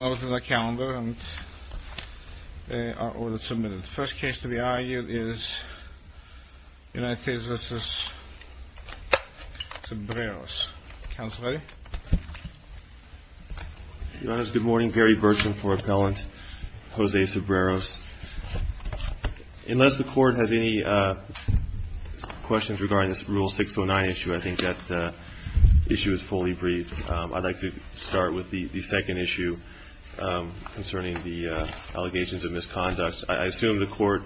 First case to be argued is United States v. Cebreros. Counsel ready? Your honors, good morning. Barry Burton for Appellant Jose Cebreros. Unless the court has any questions regarding this Rule 609 issue, I think that issue is fully briefed. I'd like to start with the second issue concerning the allegations of misconduct. I assume the court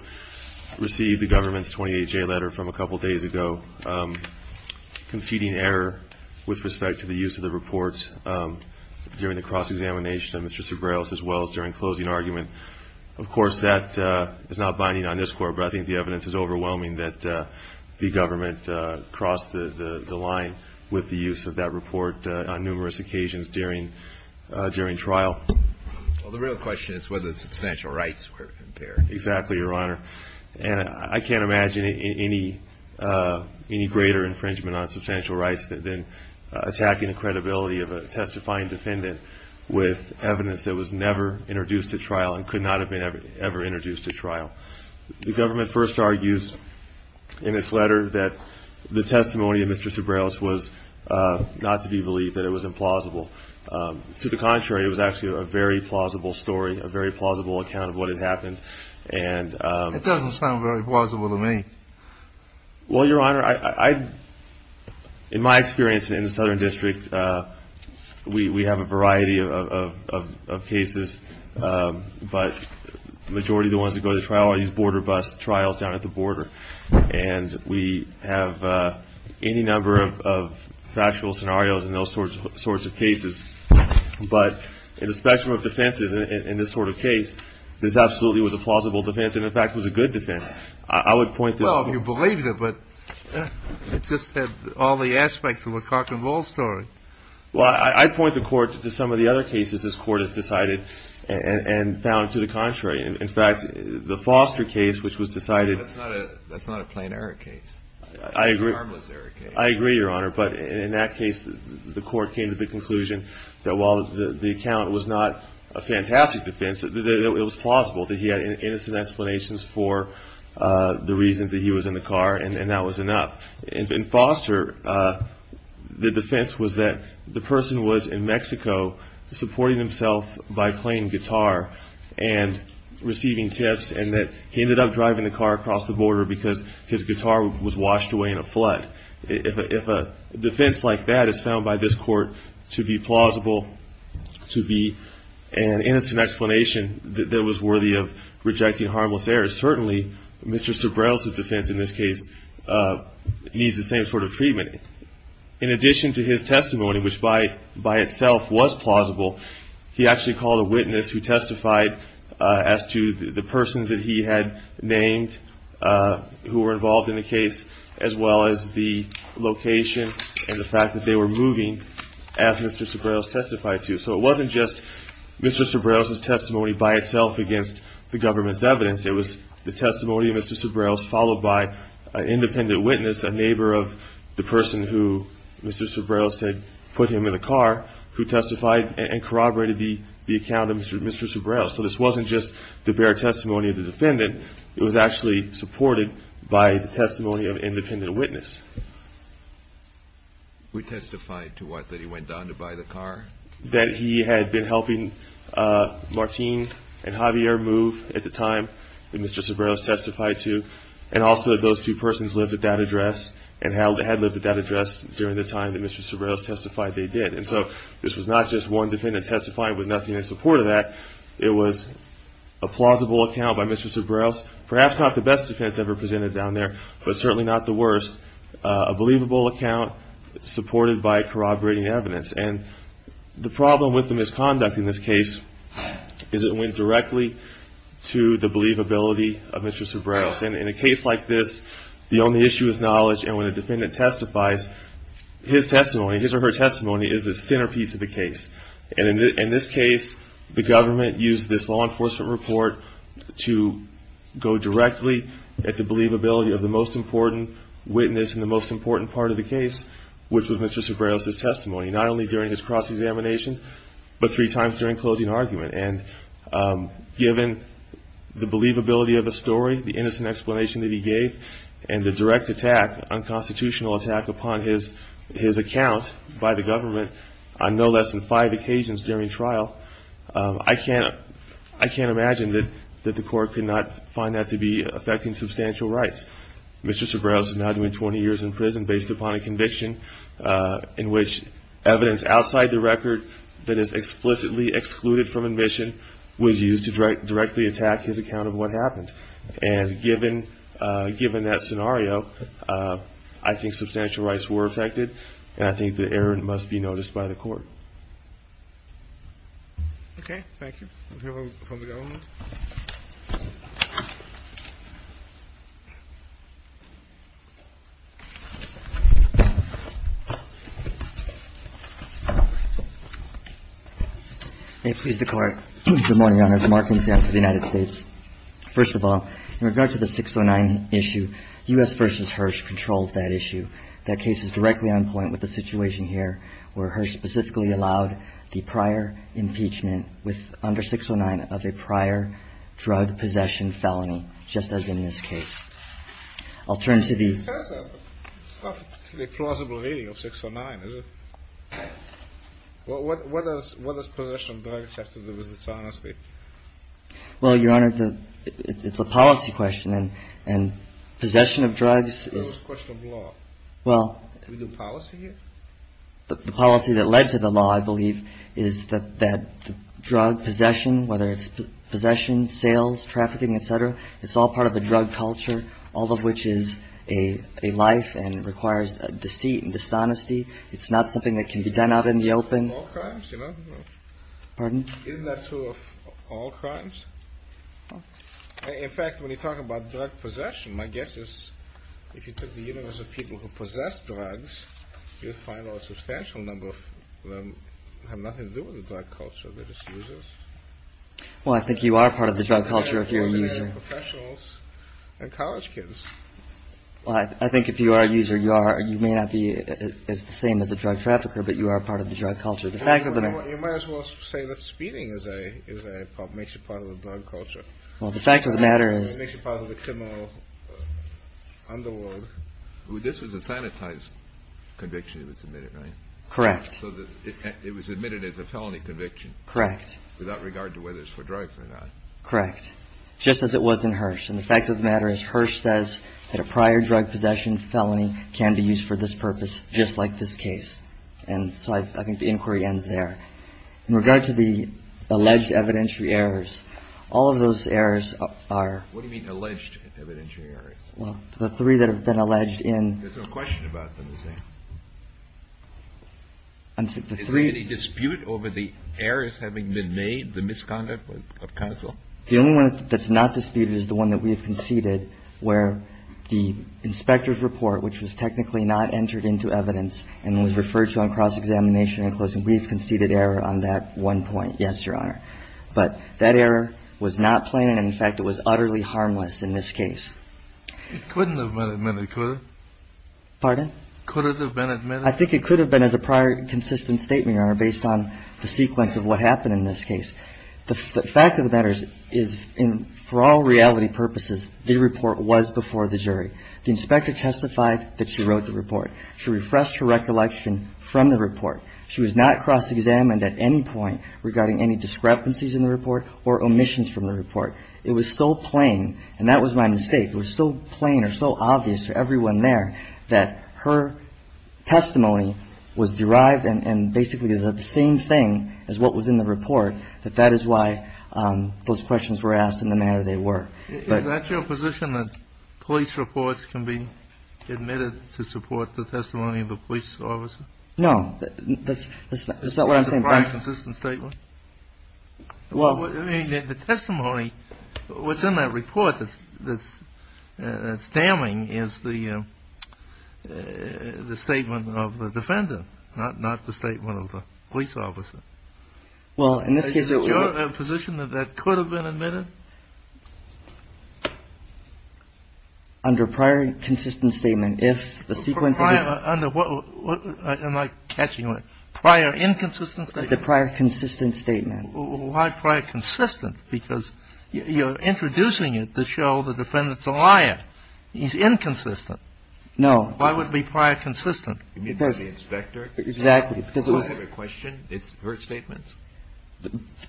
received the government's 28-J letter from a couple days ago conceding error with respect to the use of the reports during the cross-examination of Mr. Cebreros as well as during closing argument. Of course, that is not binding on this court, but I think the evidence is overwhelming that the government crossed the line with the use of that report on numerous occasions during trial. Well, the real question is whether the substantial rights were impaired. Exactly, your honor. And I can't imagine any greater infringement on substantial rights than attacking the credibility of a testifying defendant with evidence that was never introduced at trial and could not have been ever introduced at trial. The government first argues in its letter that the testimony of Mr. Cebreros was not to be believed, that it was implausible. To the contrary, it was actually a very plausible story, a very plausible account of what had happened. It doesn't sound very plausible to me. Well, your honor, in my experience in the Southern District, we have a variety of cases, but the majority of the ones that go to trial are these border bus trials down at the border. And we have any number of factual scenarios in those sorts of cases. But in the spectrum of defenses in this sort of case, this absolutely was a plausible defense. In fact, it was a good defense. I would point to... Well, if you believe it, but it just had all the aspects of a cock and roll story. Well, I point the court to some of the other cases this court has decided and found to the contrary. In fact, the Foster case, which was decided... That's not a plain error case. It's a harmless error case. I agree, your honor. But in that case, the court came to the conclusion that while the account was not a fantastic defense, it was plausible that he had innocent explanations for the reasons that he was in the car, and that was enough. In Foster, the defense was that the person was in Mexico supporting himself by playing guitar and receiving tips, and that he ended up driving the car across the border because his guitar was washed away in a flood. If a defense like that is found by this court to be plausible to be an innocent explanation that was worthy of rejecting harmless errors, certainly Mr. Sobrell's defense in this case needs the same sort of treatment. In addition to his testimony, which by itself was plausible, he actually called a witness who testified as to the persons that he had named who were involved in the case, as well as the location and the fact that they were moving as Mr. Sobrell testified to. So it wasn't just Mr. Sobrell's testimony by itself against the government's evidence. It was the testimony of Mr. Sobrell followed by an independent witness, a neighbor of the person who Mr. Sobrell said put him in the car, who testified and corroborated the account of Mr. Sobrell. So this wasn't just the bare testimony of the defendant. It was actually supported by the testimony of an independent witness. We testified to what, that he went down to buy the car? That he had been helping Martine and Javier move at the time that Mr. Sobrell testified to, and also that those two persons lived at that address and had lived at that address during the time that Mr. Sobrell testified they did. And so this was not just one defendant testifying with nothing in support of that. It was a plausible account by Mr. Sobrell, perhaps not the best defense ever presented down there, but certainly not the worst. A believable account supported by corroborating evidence. And the problem with the misconduct in this case is it went directly to the believability of Mr. Sobrell. In a case like this, the only issue is knowledge. And when a defendant testifies, his testimony, his or her testimony is the centerpiece of the case. And in this case, the government used this law enforcement report to go directly at the believability of the most important witness and the most important part of the case, which was Mr. Sobrell's testimony. Not only during his cross-examination, but three times during closing argument. And given the believability of the story, the innocent explanation that he gave, and the direct attack, unconstitutional attack upon his account by the government on no less than five occasions during trial, I can't imagine that the court could not find that to be affecting substantial rights. Mr. Sobrell is now doing 20 years in prison based upon a conviction in which evidence outside the record that is explicitly excluded from admission was used to directly attack his account of what happened. And given that scenario, I think substantial rights were affected, and I think the error must be noticed by the court. Okay. Thank you. We'll hear from the government. May it please the Court. Good morning. Your Honor. Markings down for the United States. First of all, in regard to the 609 issue, U.S. v. Hirsch controls that issue. That case is directly on point with the situation here, where Hirsch specifically allowed the prior impeachment under 609 of a prior drug possession felony, just as in this case. I'll turn to the... It's not a particularly plausible reading of 609, is it? What does possession of drugs have to do with its honesty? Well, Your Honor, it's a policy question, and possession of drugs is... Well... Do we do policy here? The policy that led to the law, I believe, is that drug possession, whether it's possession, sales, trafficking, et cetera, it's all part of a drug culture, all of which is a life and requires deceit and dishonesty. It's not something that can be done out in the open. All crimes, you know? Pardon? Isn't that true of all crimes? In fact, when you talk about drug possession, my guess is if you took the universe of people who possess drugs, you'd find a substantial number of them have nothing to do with the drug culture that it uses. Well, I think you are part of the drug culture if you're a user. Professionals and college kids. Well, I think if you are a user, you may not be the same as a drug trafficker, but you are part of the drug culture. You might as well say that speeding makes you part of the drug culture. Well, the fact of the matter is... This was a sanitized conviction that was submitted, right? Correct. So it was admitted as a felony conviction. Correct. Without regard to whether it's for drugs or not. Correct. Just as it was in Hirsch. And the fact of the matter is Hirsch says that a prior drug possession felony can be used for this purpose, just like this case. And so I think the inquiry ends there. In regard to the alleged evidentiary errors, all of those errors are... What do you mean alleged evidentiary errors? Well, the three that have been alleged in... There's no question about them, is there? Is there any dispute over the errors having been made, the misconduct of counsel? The only one that's not disputed is the one that we have conceded, where the inspector's report, which was technically not entered into evidence and was referred to on cross-examination and closing, we've conceded error on that one point, yes, Your Honor. But that error was not plain and, in fact, it was utterly harmless in this case. It couldn't have been admitted, could it? Pardon? Could it have been admitted? I think it could have been as a prior consistent statement, Your Honor, based on the sequence of what happened in this case. The fact of the matter is, for all reality purposes, the report was before the jury. The inspector testified that she wrote the report. She refreshed her recollection from the report. She was not cross-examined at any point regarding any discrepancies in the report or omissions from the report. It was so plain, and that was my mistake, it was so plain or so obvious to everyone there that her testimony was derived and basically the same thing as what was in the report, that that is why those questions were asked in the manner they were. Is that your position, that police reports can be admitted to support the testimony of a police officer? No. That's not what I'm saying. As a prior consistent statement? Well, I mean, the testimony, what's in that report that's damning is the statement of the defendant, not the statement of the police officer. Well, in this case, it would be — Is it your position that that could have been admitted? Under prior consistent statement, if the sequence — Under what? Am I catching on? Prior inconsistent statement? The prior consistent statement. Why prior consistent? Because you're introducing it to show the defendant's a liar. He's inconsistent. No. Why would it be prior consistent? Because — You need to see the inspector. Exactly. Because it was — Do I have a question? It's her statement.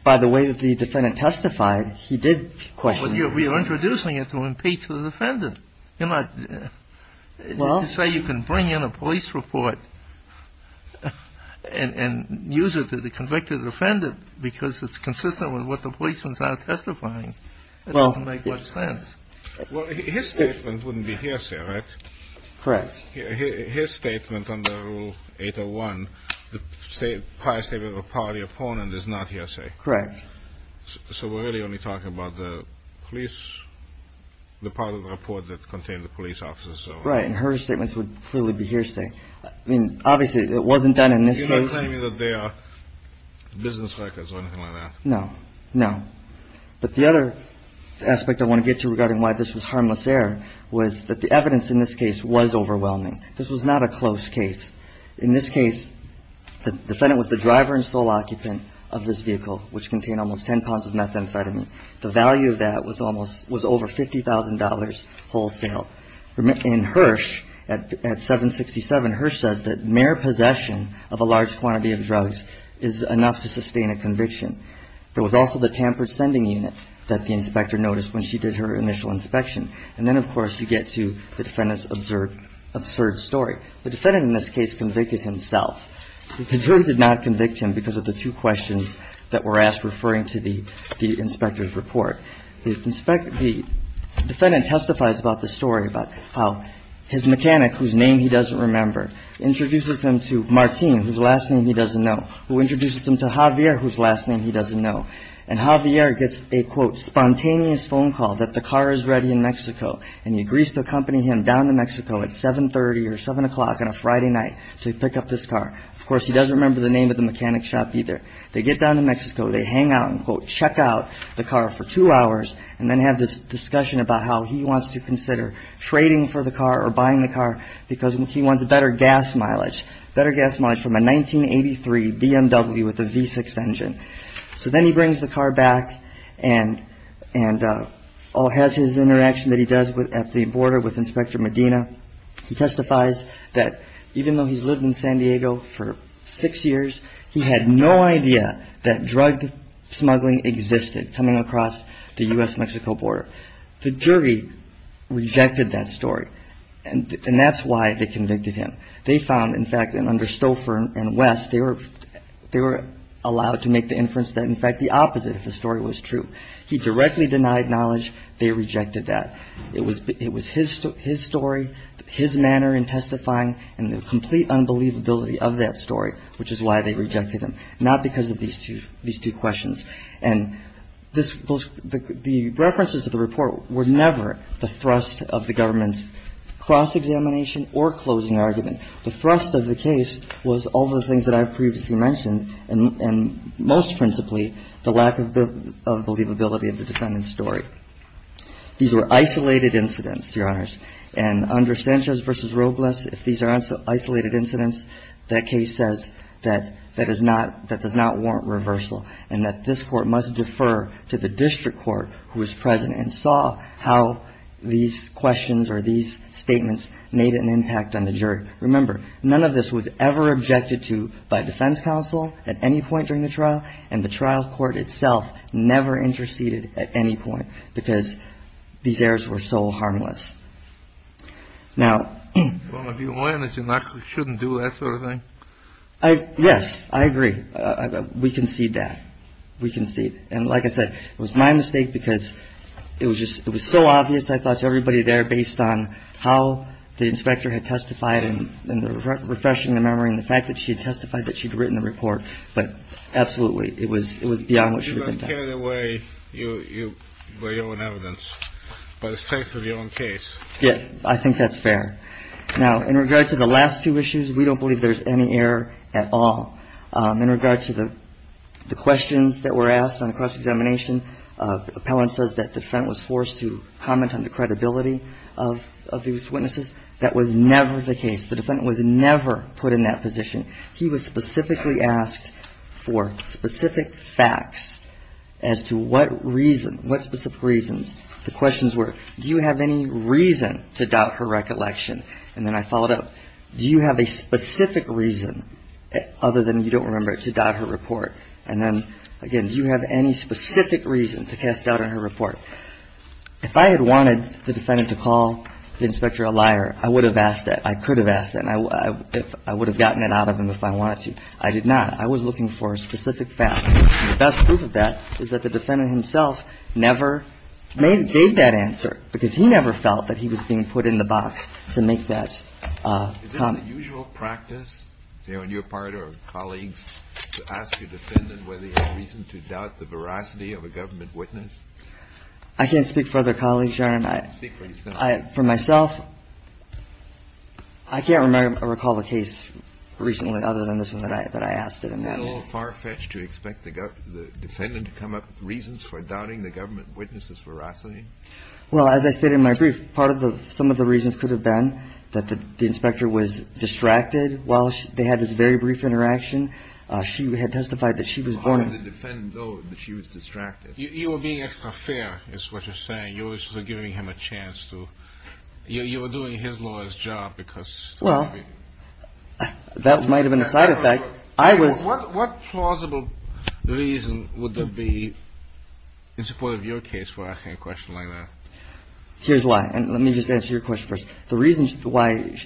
By the way that the defendant testified, he did question her. But you're introducing it to impeach the defendant. You're not — Well — I didn't say you can bring in a police report and use it to convict the defendant because it's consistent with what the policeman's not testifying. It doesn't make much sense. Well, his statement wouldn't be hearsay, right? Correct. His statement under Rule 801, the prior statement of a party opponent, is not hearsay. Correct. So we're really only talking about the police — the part of the report that contained the police officer. Right. And her statements would clearly be hearsay. I mean, obviously, it wasn't done in this case — You're not claiming that they are business hackers or anything like that. No. No. But the other aspect I want to get to regarding why this was harmless error was that the evidence in this case was overwhelming. This was not a close case. In this case, the defendant was the driver and sole occupant of this vehicle, which contained almost 10 pounds of methamphetamine. The value of that was almost — was over $50,000 wholesale. In Hirsch, at 767, Hirsch says that mere possession of a large quantity of drugs is enough to sustain a conviction. There was also the tampered sending unit that the inspector noticed when she did her initial inspection. And then, of course, you get to the defendant's absurd story. The defendant in this case convicted himself. The jury did not convict him because of the two questions that were asked referring to the inspector's report. The defendant testifies about the story about how his mechanic, whose name he doesn't remember, introduces him to Martine, whose last name he doesn't know, who introduces him to Javier, whose last name he doesn't know. And Javier gets a, quote, spontaneous phone call that the car is ready in Mexico. And he agrees to accompany him down to Mexico at 730 or 7 o'clock on a Friday night to pick up this car. Of course, he doesn't remember the name of the mechanic shop either. They get down to Mexico. They hang out and, quote, check out the car for two hours and then have this discussion about how he wants to consider trading for the car or buying the car because he wants a better gas mileage, better gas mileage from a 1983 BMW with a V6 engine. So then he brings the car back and has his interaction that he does at the border with Inspector Medina. He testifies that even though he's lived in San Diego for six years, he had no idea that drug smuggling existed coming across the U.S.-Mexico border. The jury rejected that story, and that's why they convicted him. They found, in fact, under Stouffer and West, they were allowed to make the inference that, in fact, the opposite of the story was true. He directly denied knowledge. They rejected that. It was his story, his manner in testifying, and the complete unbelievability of that story, which is why they rejected him, not because of these two questions. And the references to the report were never the thrust of the government's cross-examination or closing argument. The thrust of the case was all the things that I've previously mentioned, and most principally the lack of believability of the defendant's story. These were isolated incidents, Your Honors. And under Sanchez v. Robles, if these are isolated incidents, that case says that that is not – that does not warrant reversal and that this Court must defer to the district court who is present and saw how these questions or these statements made an impact on the jury. Remember, none of this was ever objected to by defense counsel at any point during the trial, and the trial court itself never interceded at any point because these errors were so harmless. Now – Well, if you win, it's not – you shouldn't do that sort of thing. Yes. I agree. We concede that. We concede. And like I said, it was my mistake because it was just – it was so obvious, I thought, to everybody there, based on how the inspector had testified and refreshing the memory and the fact that she had testified that she'd written the report. But absolutely, it was beyond what should have been done. You don't care the way you weigh your own evidence by the state of your own case. Yes. I think that's fair. Now, in regard to the last two issues, we don't believe there's any error at all. In regard to the questions that were asked on cross-examination, the appellant says that the defendant was forced to comment on the credibility of these witnesses. That was never the case. The defendant was never put in that position. He was specifically asked for specific facts as to what reason, what specific reasons. The questions were, do you have any reason to doubt her recollection? And then I followed up. Do you have a specific reason, other than you don't remember, to doubt her report? And then, again, do you have any specific reason to cast doubt on her report? If I had wanted the defendant to call the inspector a liar, I would have asked that. I could have asked that. And I would have gotten it out of him if I wanted to. I did not. I was looking for specific facts. And the best proof of that is that the defendant himself never gave that answer because he never felt that he was being put in the box to make that comment. Is this the usual practice, say, when you're part of colleagues to ask your defendant whether he has reason to doubt the veracity of a government witness? I can't speak for other colleagues, Your Honor. Speak for yourself. For myself, I can't recall a case recently other than this one that I asked it in that way. Is it a little far-fetched to expect the defendant to come up with reasons for doubting the government witness's veracity? Well, as I said in my brief, part of the ‑‑ some of the reasons could have been that the inspector was distracted while they had this very brief interaction. She had testified that she was born in ‑‑ How did the defendant know that she was distracted? You were being extra fair is what you're saying. You were sort of giving him a chance to ‑‑ you were doing his lawyer's job because ‑‑ I was ‑‑ What plausible reason would there be in support of your case for asking a question like that? Here's why. And let me just answer your question first. The reason why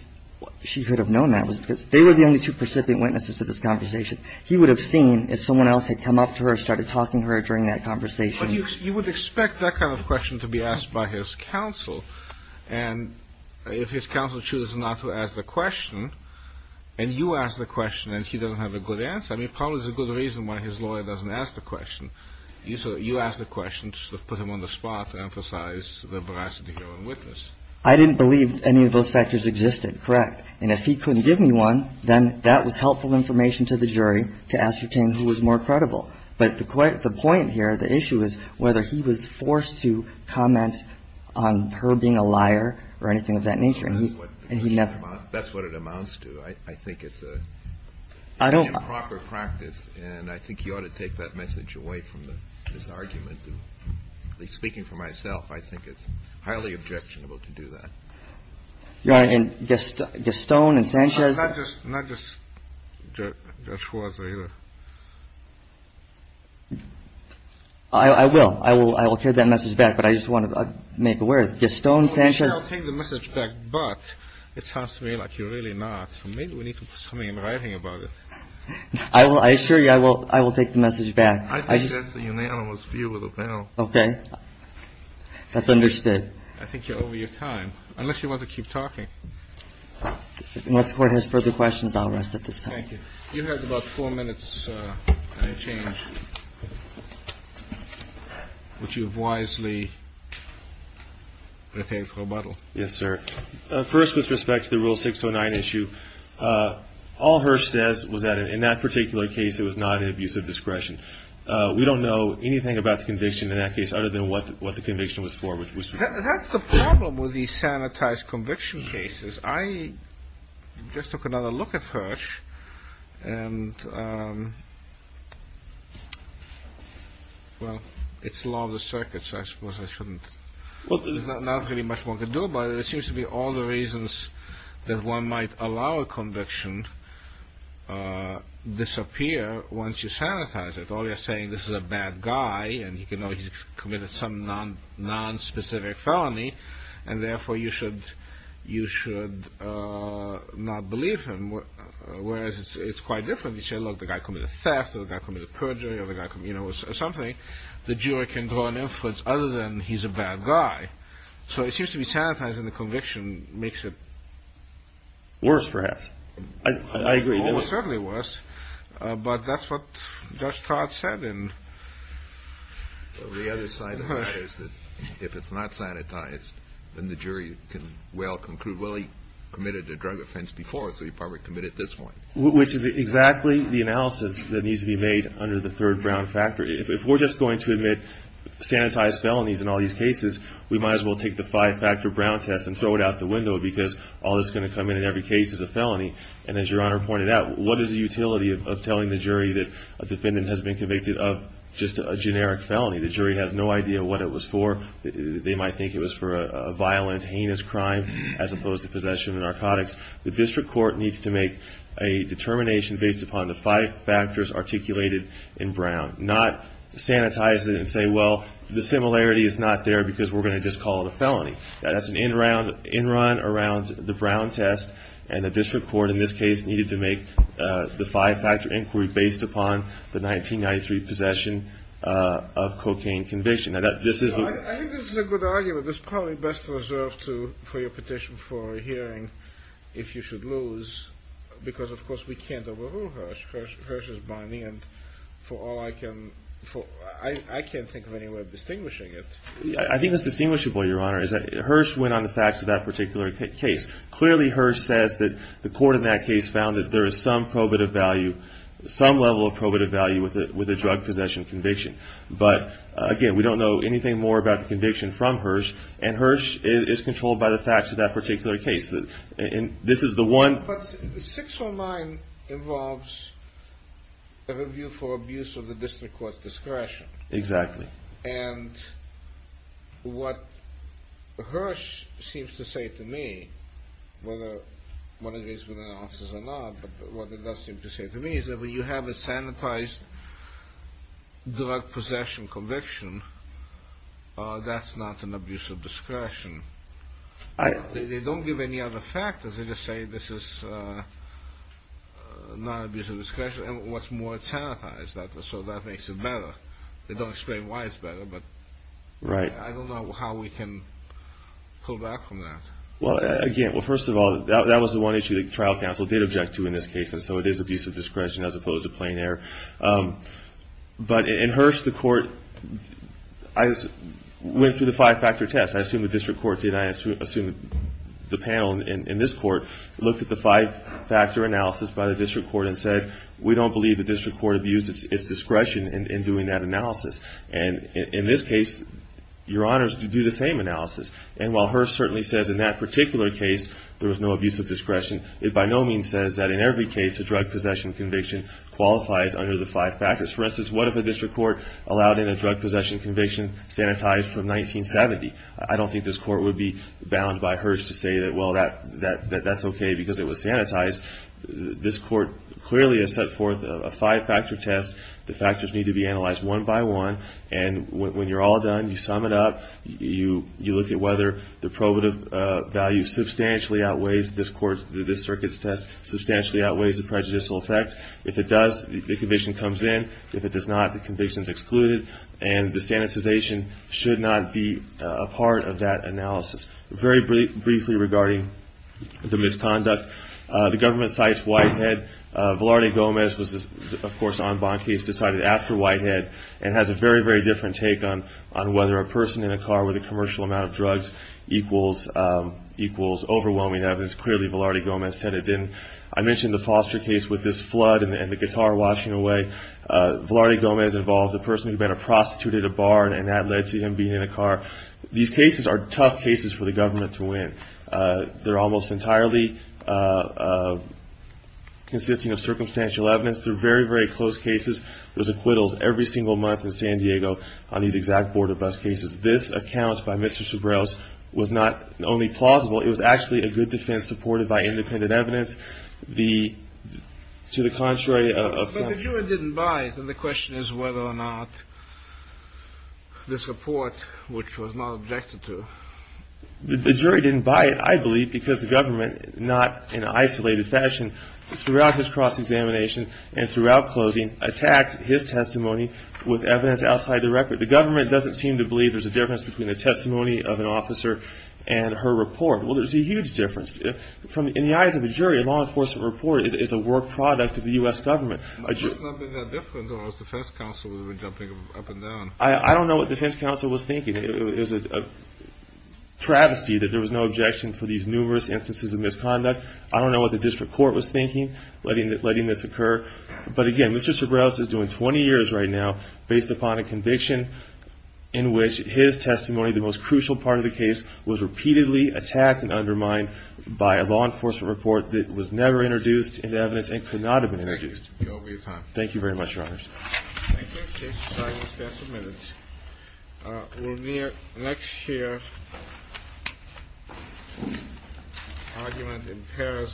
she could have known that was because they were the only two precipitant witnesses to this conversation. He would have seen if someone else had come up to her, started talking to her during that conversation. But you would expect that kind of question to be asked by his counsel. And if his counsel chooses not to ask the question and you ask the question and he doesn't have a good answer, I mean, it probably is a good reason why his lawyer doesn't ask the question. You ask the question to sort of put him on the spot to emphasize the veracity of a witness. I didn't believe any of those factors existed. Correct. And if he couldn't give me one, then that was helpful information to the jury to ascertain who was more credible. But the point here, the issue is whether he was forced to comment on her being a liar or anything of that nature. And he never ‑‑ That's what it amounts to. I think it's a ‑‑ I don't ‑‑ In proper practice. And I think you ought to take that message away from this argument. At least speaking for myself, I think it's highly objectionable to do that. Your Honor, and Gaston and Sanchez ‑‑ Not just ‑‑ not just Judge Huaz, either. I will. I will ‑‑ I will get that message back. But I just want to make aware of it. Gaston, Sanchez ‑‑ We can still take the message back. But it sounds to me like you're really not. Maybe we need to put something in writing about it. I assure you, I will take the message back. I think that's the unanimous view of the panel. Okay. That's understood. I think you're over your time, unless you want to keep talking. Unless the Court has further questions, I'll rest at this time. Thank you. You have about four minutes on your change, which you have wisely retained for rebuttal. Yes, sir. First, with respect to the Rule 609 issue, all Hirsch says was that in that particular case, it was not an abuse of discretion. We don't know anything about the conviction in that case other than what the conviction was for. That's the problem with these sanitized conviction cases. I just took another look at Hirsch, and, well, it's law of the circuit, so I suppose I shouldn't. Well, there's not really much one can do about it. It seems to me all the reasons that one might allow a conviction disappear once you sanitize it. All you're saying, this is a bad guy, and you can know he's committed some nonspecific felony, and therefore you should not believe him. Whereas it's quite different. You say, look, the guy committed theft, or the guy committed perjury, or the guy committed something. The jury can draw an inference other than he's a bad guy. So it seems to me sanitizing the conviction makes it worse, perhaps. I agree. It's certainly worse. But that's what Judge Todd said. The other side of that is that if it's not sanitized, then the jury can well conclude, well, he committed a drug offense before, so he probably committed at this point. Which is exactly the analysis that needs to be made under the third Brown factor. If we're just going to admit sanitized felonies in all these cases, we might as well take the five-factor Brown test and throw it out the window because all that's going to come in in every case is a felony. And as Your Honor pointed out, what is the utility of telling the jury that a defendant has been convicted of just a generic felony? The jury has no idea what it was for. They might think it was for a violent, heinous crime as opposed to possession of narcotics. The district court needs to make a determination based upon the five factors articulated in Brown, not sanitize it and say, well, the similarity is not there because we're going to just call it a felony. That's an in-run around the Brown test, and the district court in this case needed to make the five-factor inquiry based upon the 1993 possession of cocaine conviction. I think this is a good argument. It's probably best reserved for your petition for a hearing if you should lose because, of course, we can't overrule Hirsch. Hirsch is binding, and for all I can – I can't think of any way of distinguishing it. I think that's distinguishable, Your Honor, is that Hirsch went on the facts of that particular case. Clearly, Hirsch says that the court in that case found that there is some probative value, some level of probative value with a drug possession conviction. But, again, we don't know anything more about the conviction from Hirsch, and Hirsch is controlled by the facts of that particular case. And this is the one – But six or nine involves a review for abuse of the district court's discretion. Exactly. And what Hirsch seems to say to me, whether one agrees with the answers or not, but what it does seem to say to me is that when you have a sanitized drug possession conviction, that's not an abuse of discretion. They don't give any other factors. They just say this is not an abuse of discretion. And what's more, it's sanitized, so that makes it better. They don't explain why it's better, but I don't know how we can pull back from that. Well, again, well, first of all, that was the one issue the trial counsel did object to in this case, and so it is abuse of discretion as opposed to plain error. But in Hirsch, the court went through the five-factor test. I assume the district court did. I assume the panel in this court looked at the five-factor analysis by the district court and said, we don't believe the district court abused its discretion in doing that analysis. And in this case, Your Honors did do the same analysis. And while Hirsch certainly says in that particular case there was no abuse of discretion, it by no means says that in every case a drug possession conviction qualifies under the five factors. For instance, what if a district court allowed in a drug possession conviction sanitized from 1970? I don't think this court would be bound by Hirsch to say that, well, that's okay because it was sanitized. This court clearly has set forth a five-factor test. The factors need to be analyzed one by one. And when you're all done, you sum it up. You look at whether the probative value substantially outweighs this circuit's test, substantially outweighs the prejudicial effect. If it does, the conviction comes in. If it does not, the conviction is excluded. And the sanitization should not be a part of that analysis. Very briefly regarding the misconduct, the government cites Whitehead. Velarde Gomez was, of course, on bond case decided after Whitehead and has a very, very different take on whether a person in a car with a commercial amount of drugs equals overwhelming evidence. Clearly Velarde Gomez said it didn't. I mentioned the foster case with this flood and the guitar washing away. Velarde Gomez involved a person who had been a prostitute at a bar, and that led to him being in a car. These cases are tough cases for the government to win. They're almost entirely consisting of circumstantial evidence. They're very, very close cases. There's acquittals every single month in San Diego on these exact border bus cases. This account by Mr. Sobrell's was not only plausible. It was actually a good defense supported by independent evidence. The to the contrary of. But the jury didn't buy it. And the question is whether or not this report, which was not objected to. The jury didn't buy it, I believe, because the government, not in an isolated fashion, throughout this cross-examination and throughout closing, attacked his testimony with evidence outside the record. The government doesn't seem to believe there's a difference between a testimony of an officer and her report. Well, there's a huge difference. In the eyes of a jury, a law enforcement report is a work product of the U.S. government. It must not have been that different, or was defense counsel jumping up and down? I don't know what defense counsel was thinking. It was a travesty that there was no objection for these numerous instances of misconduct. I don't know what the district court was thinking, letting this occur. But, again, Mr. Sobrell's is doing 20 years right now based upon a conviction in which his testimony, the most crucial part of the case, was repeatedly attacked and undermined by a law enforcement report that was never introduced into evidence and could not have been introduced. Thank you very much, Your Honors. Thank you. We'll stand for a few minutes. We'll next hear an argument in Paris v. Lewis.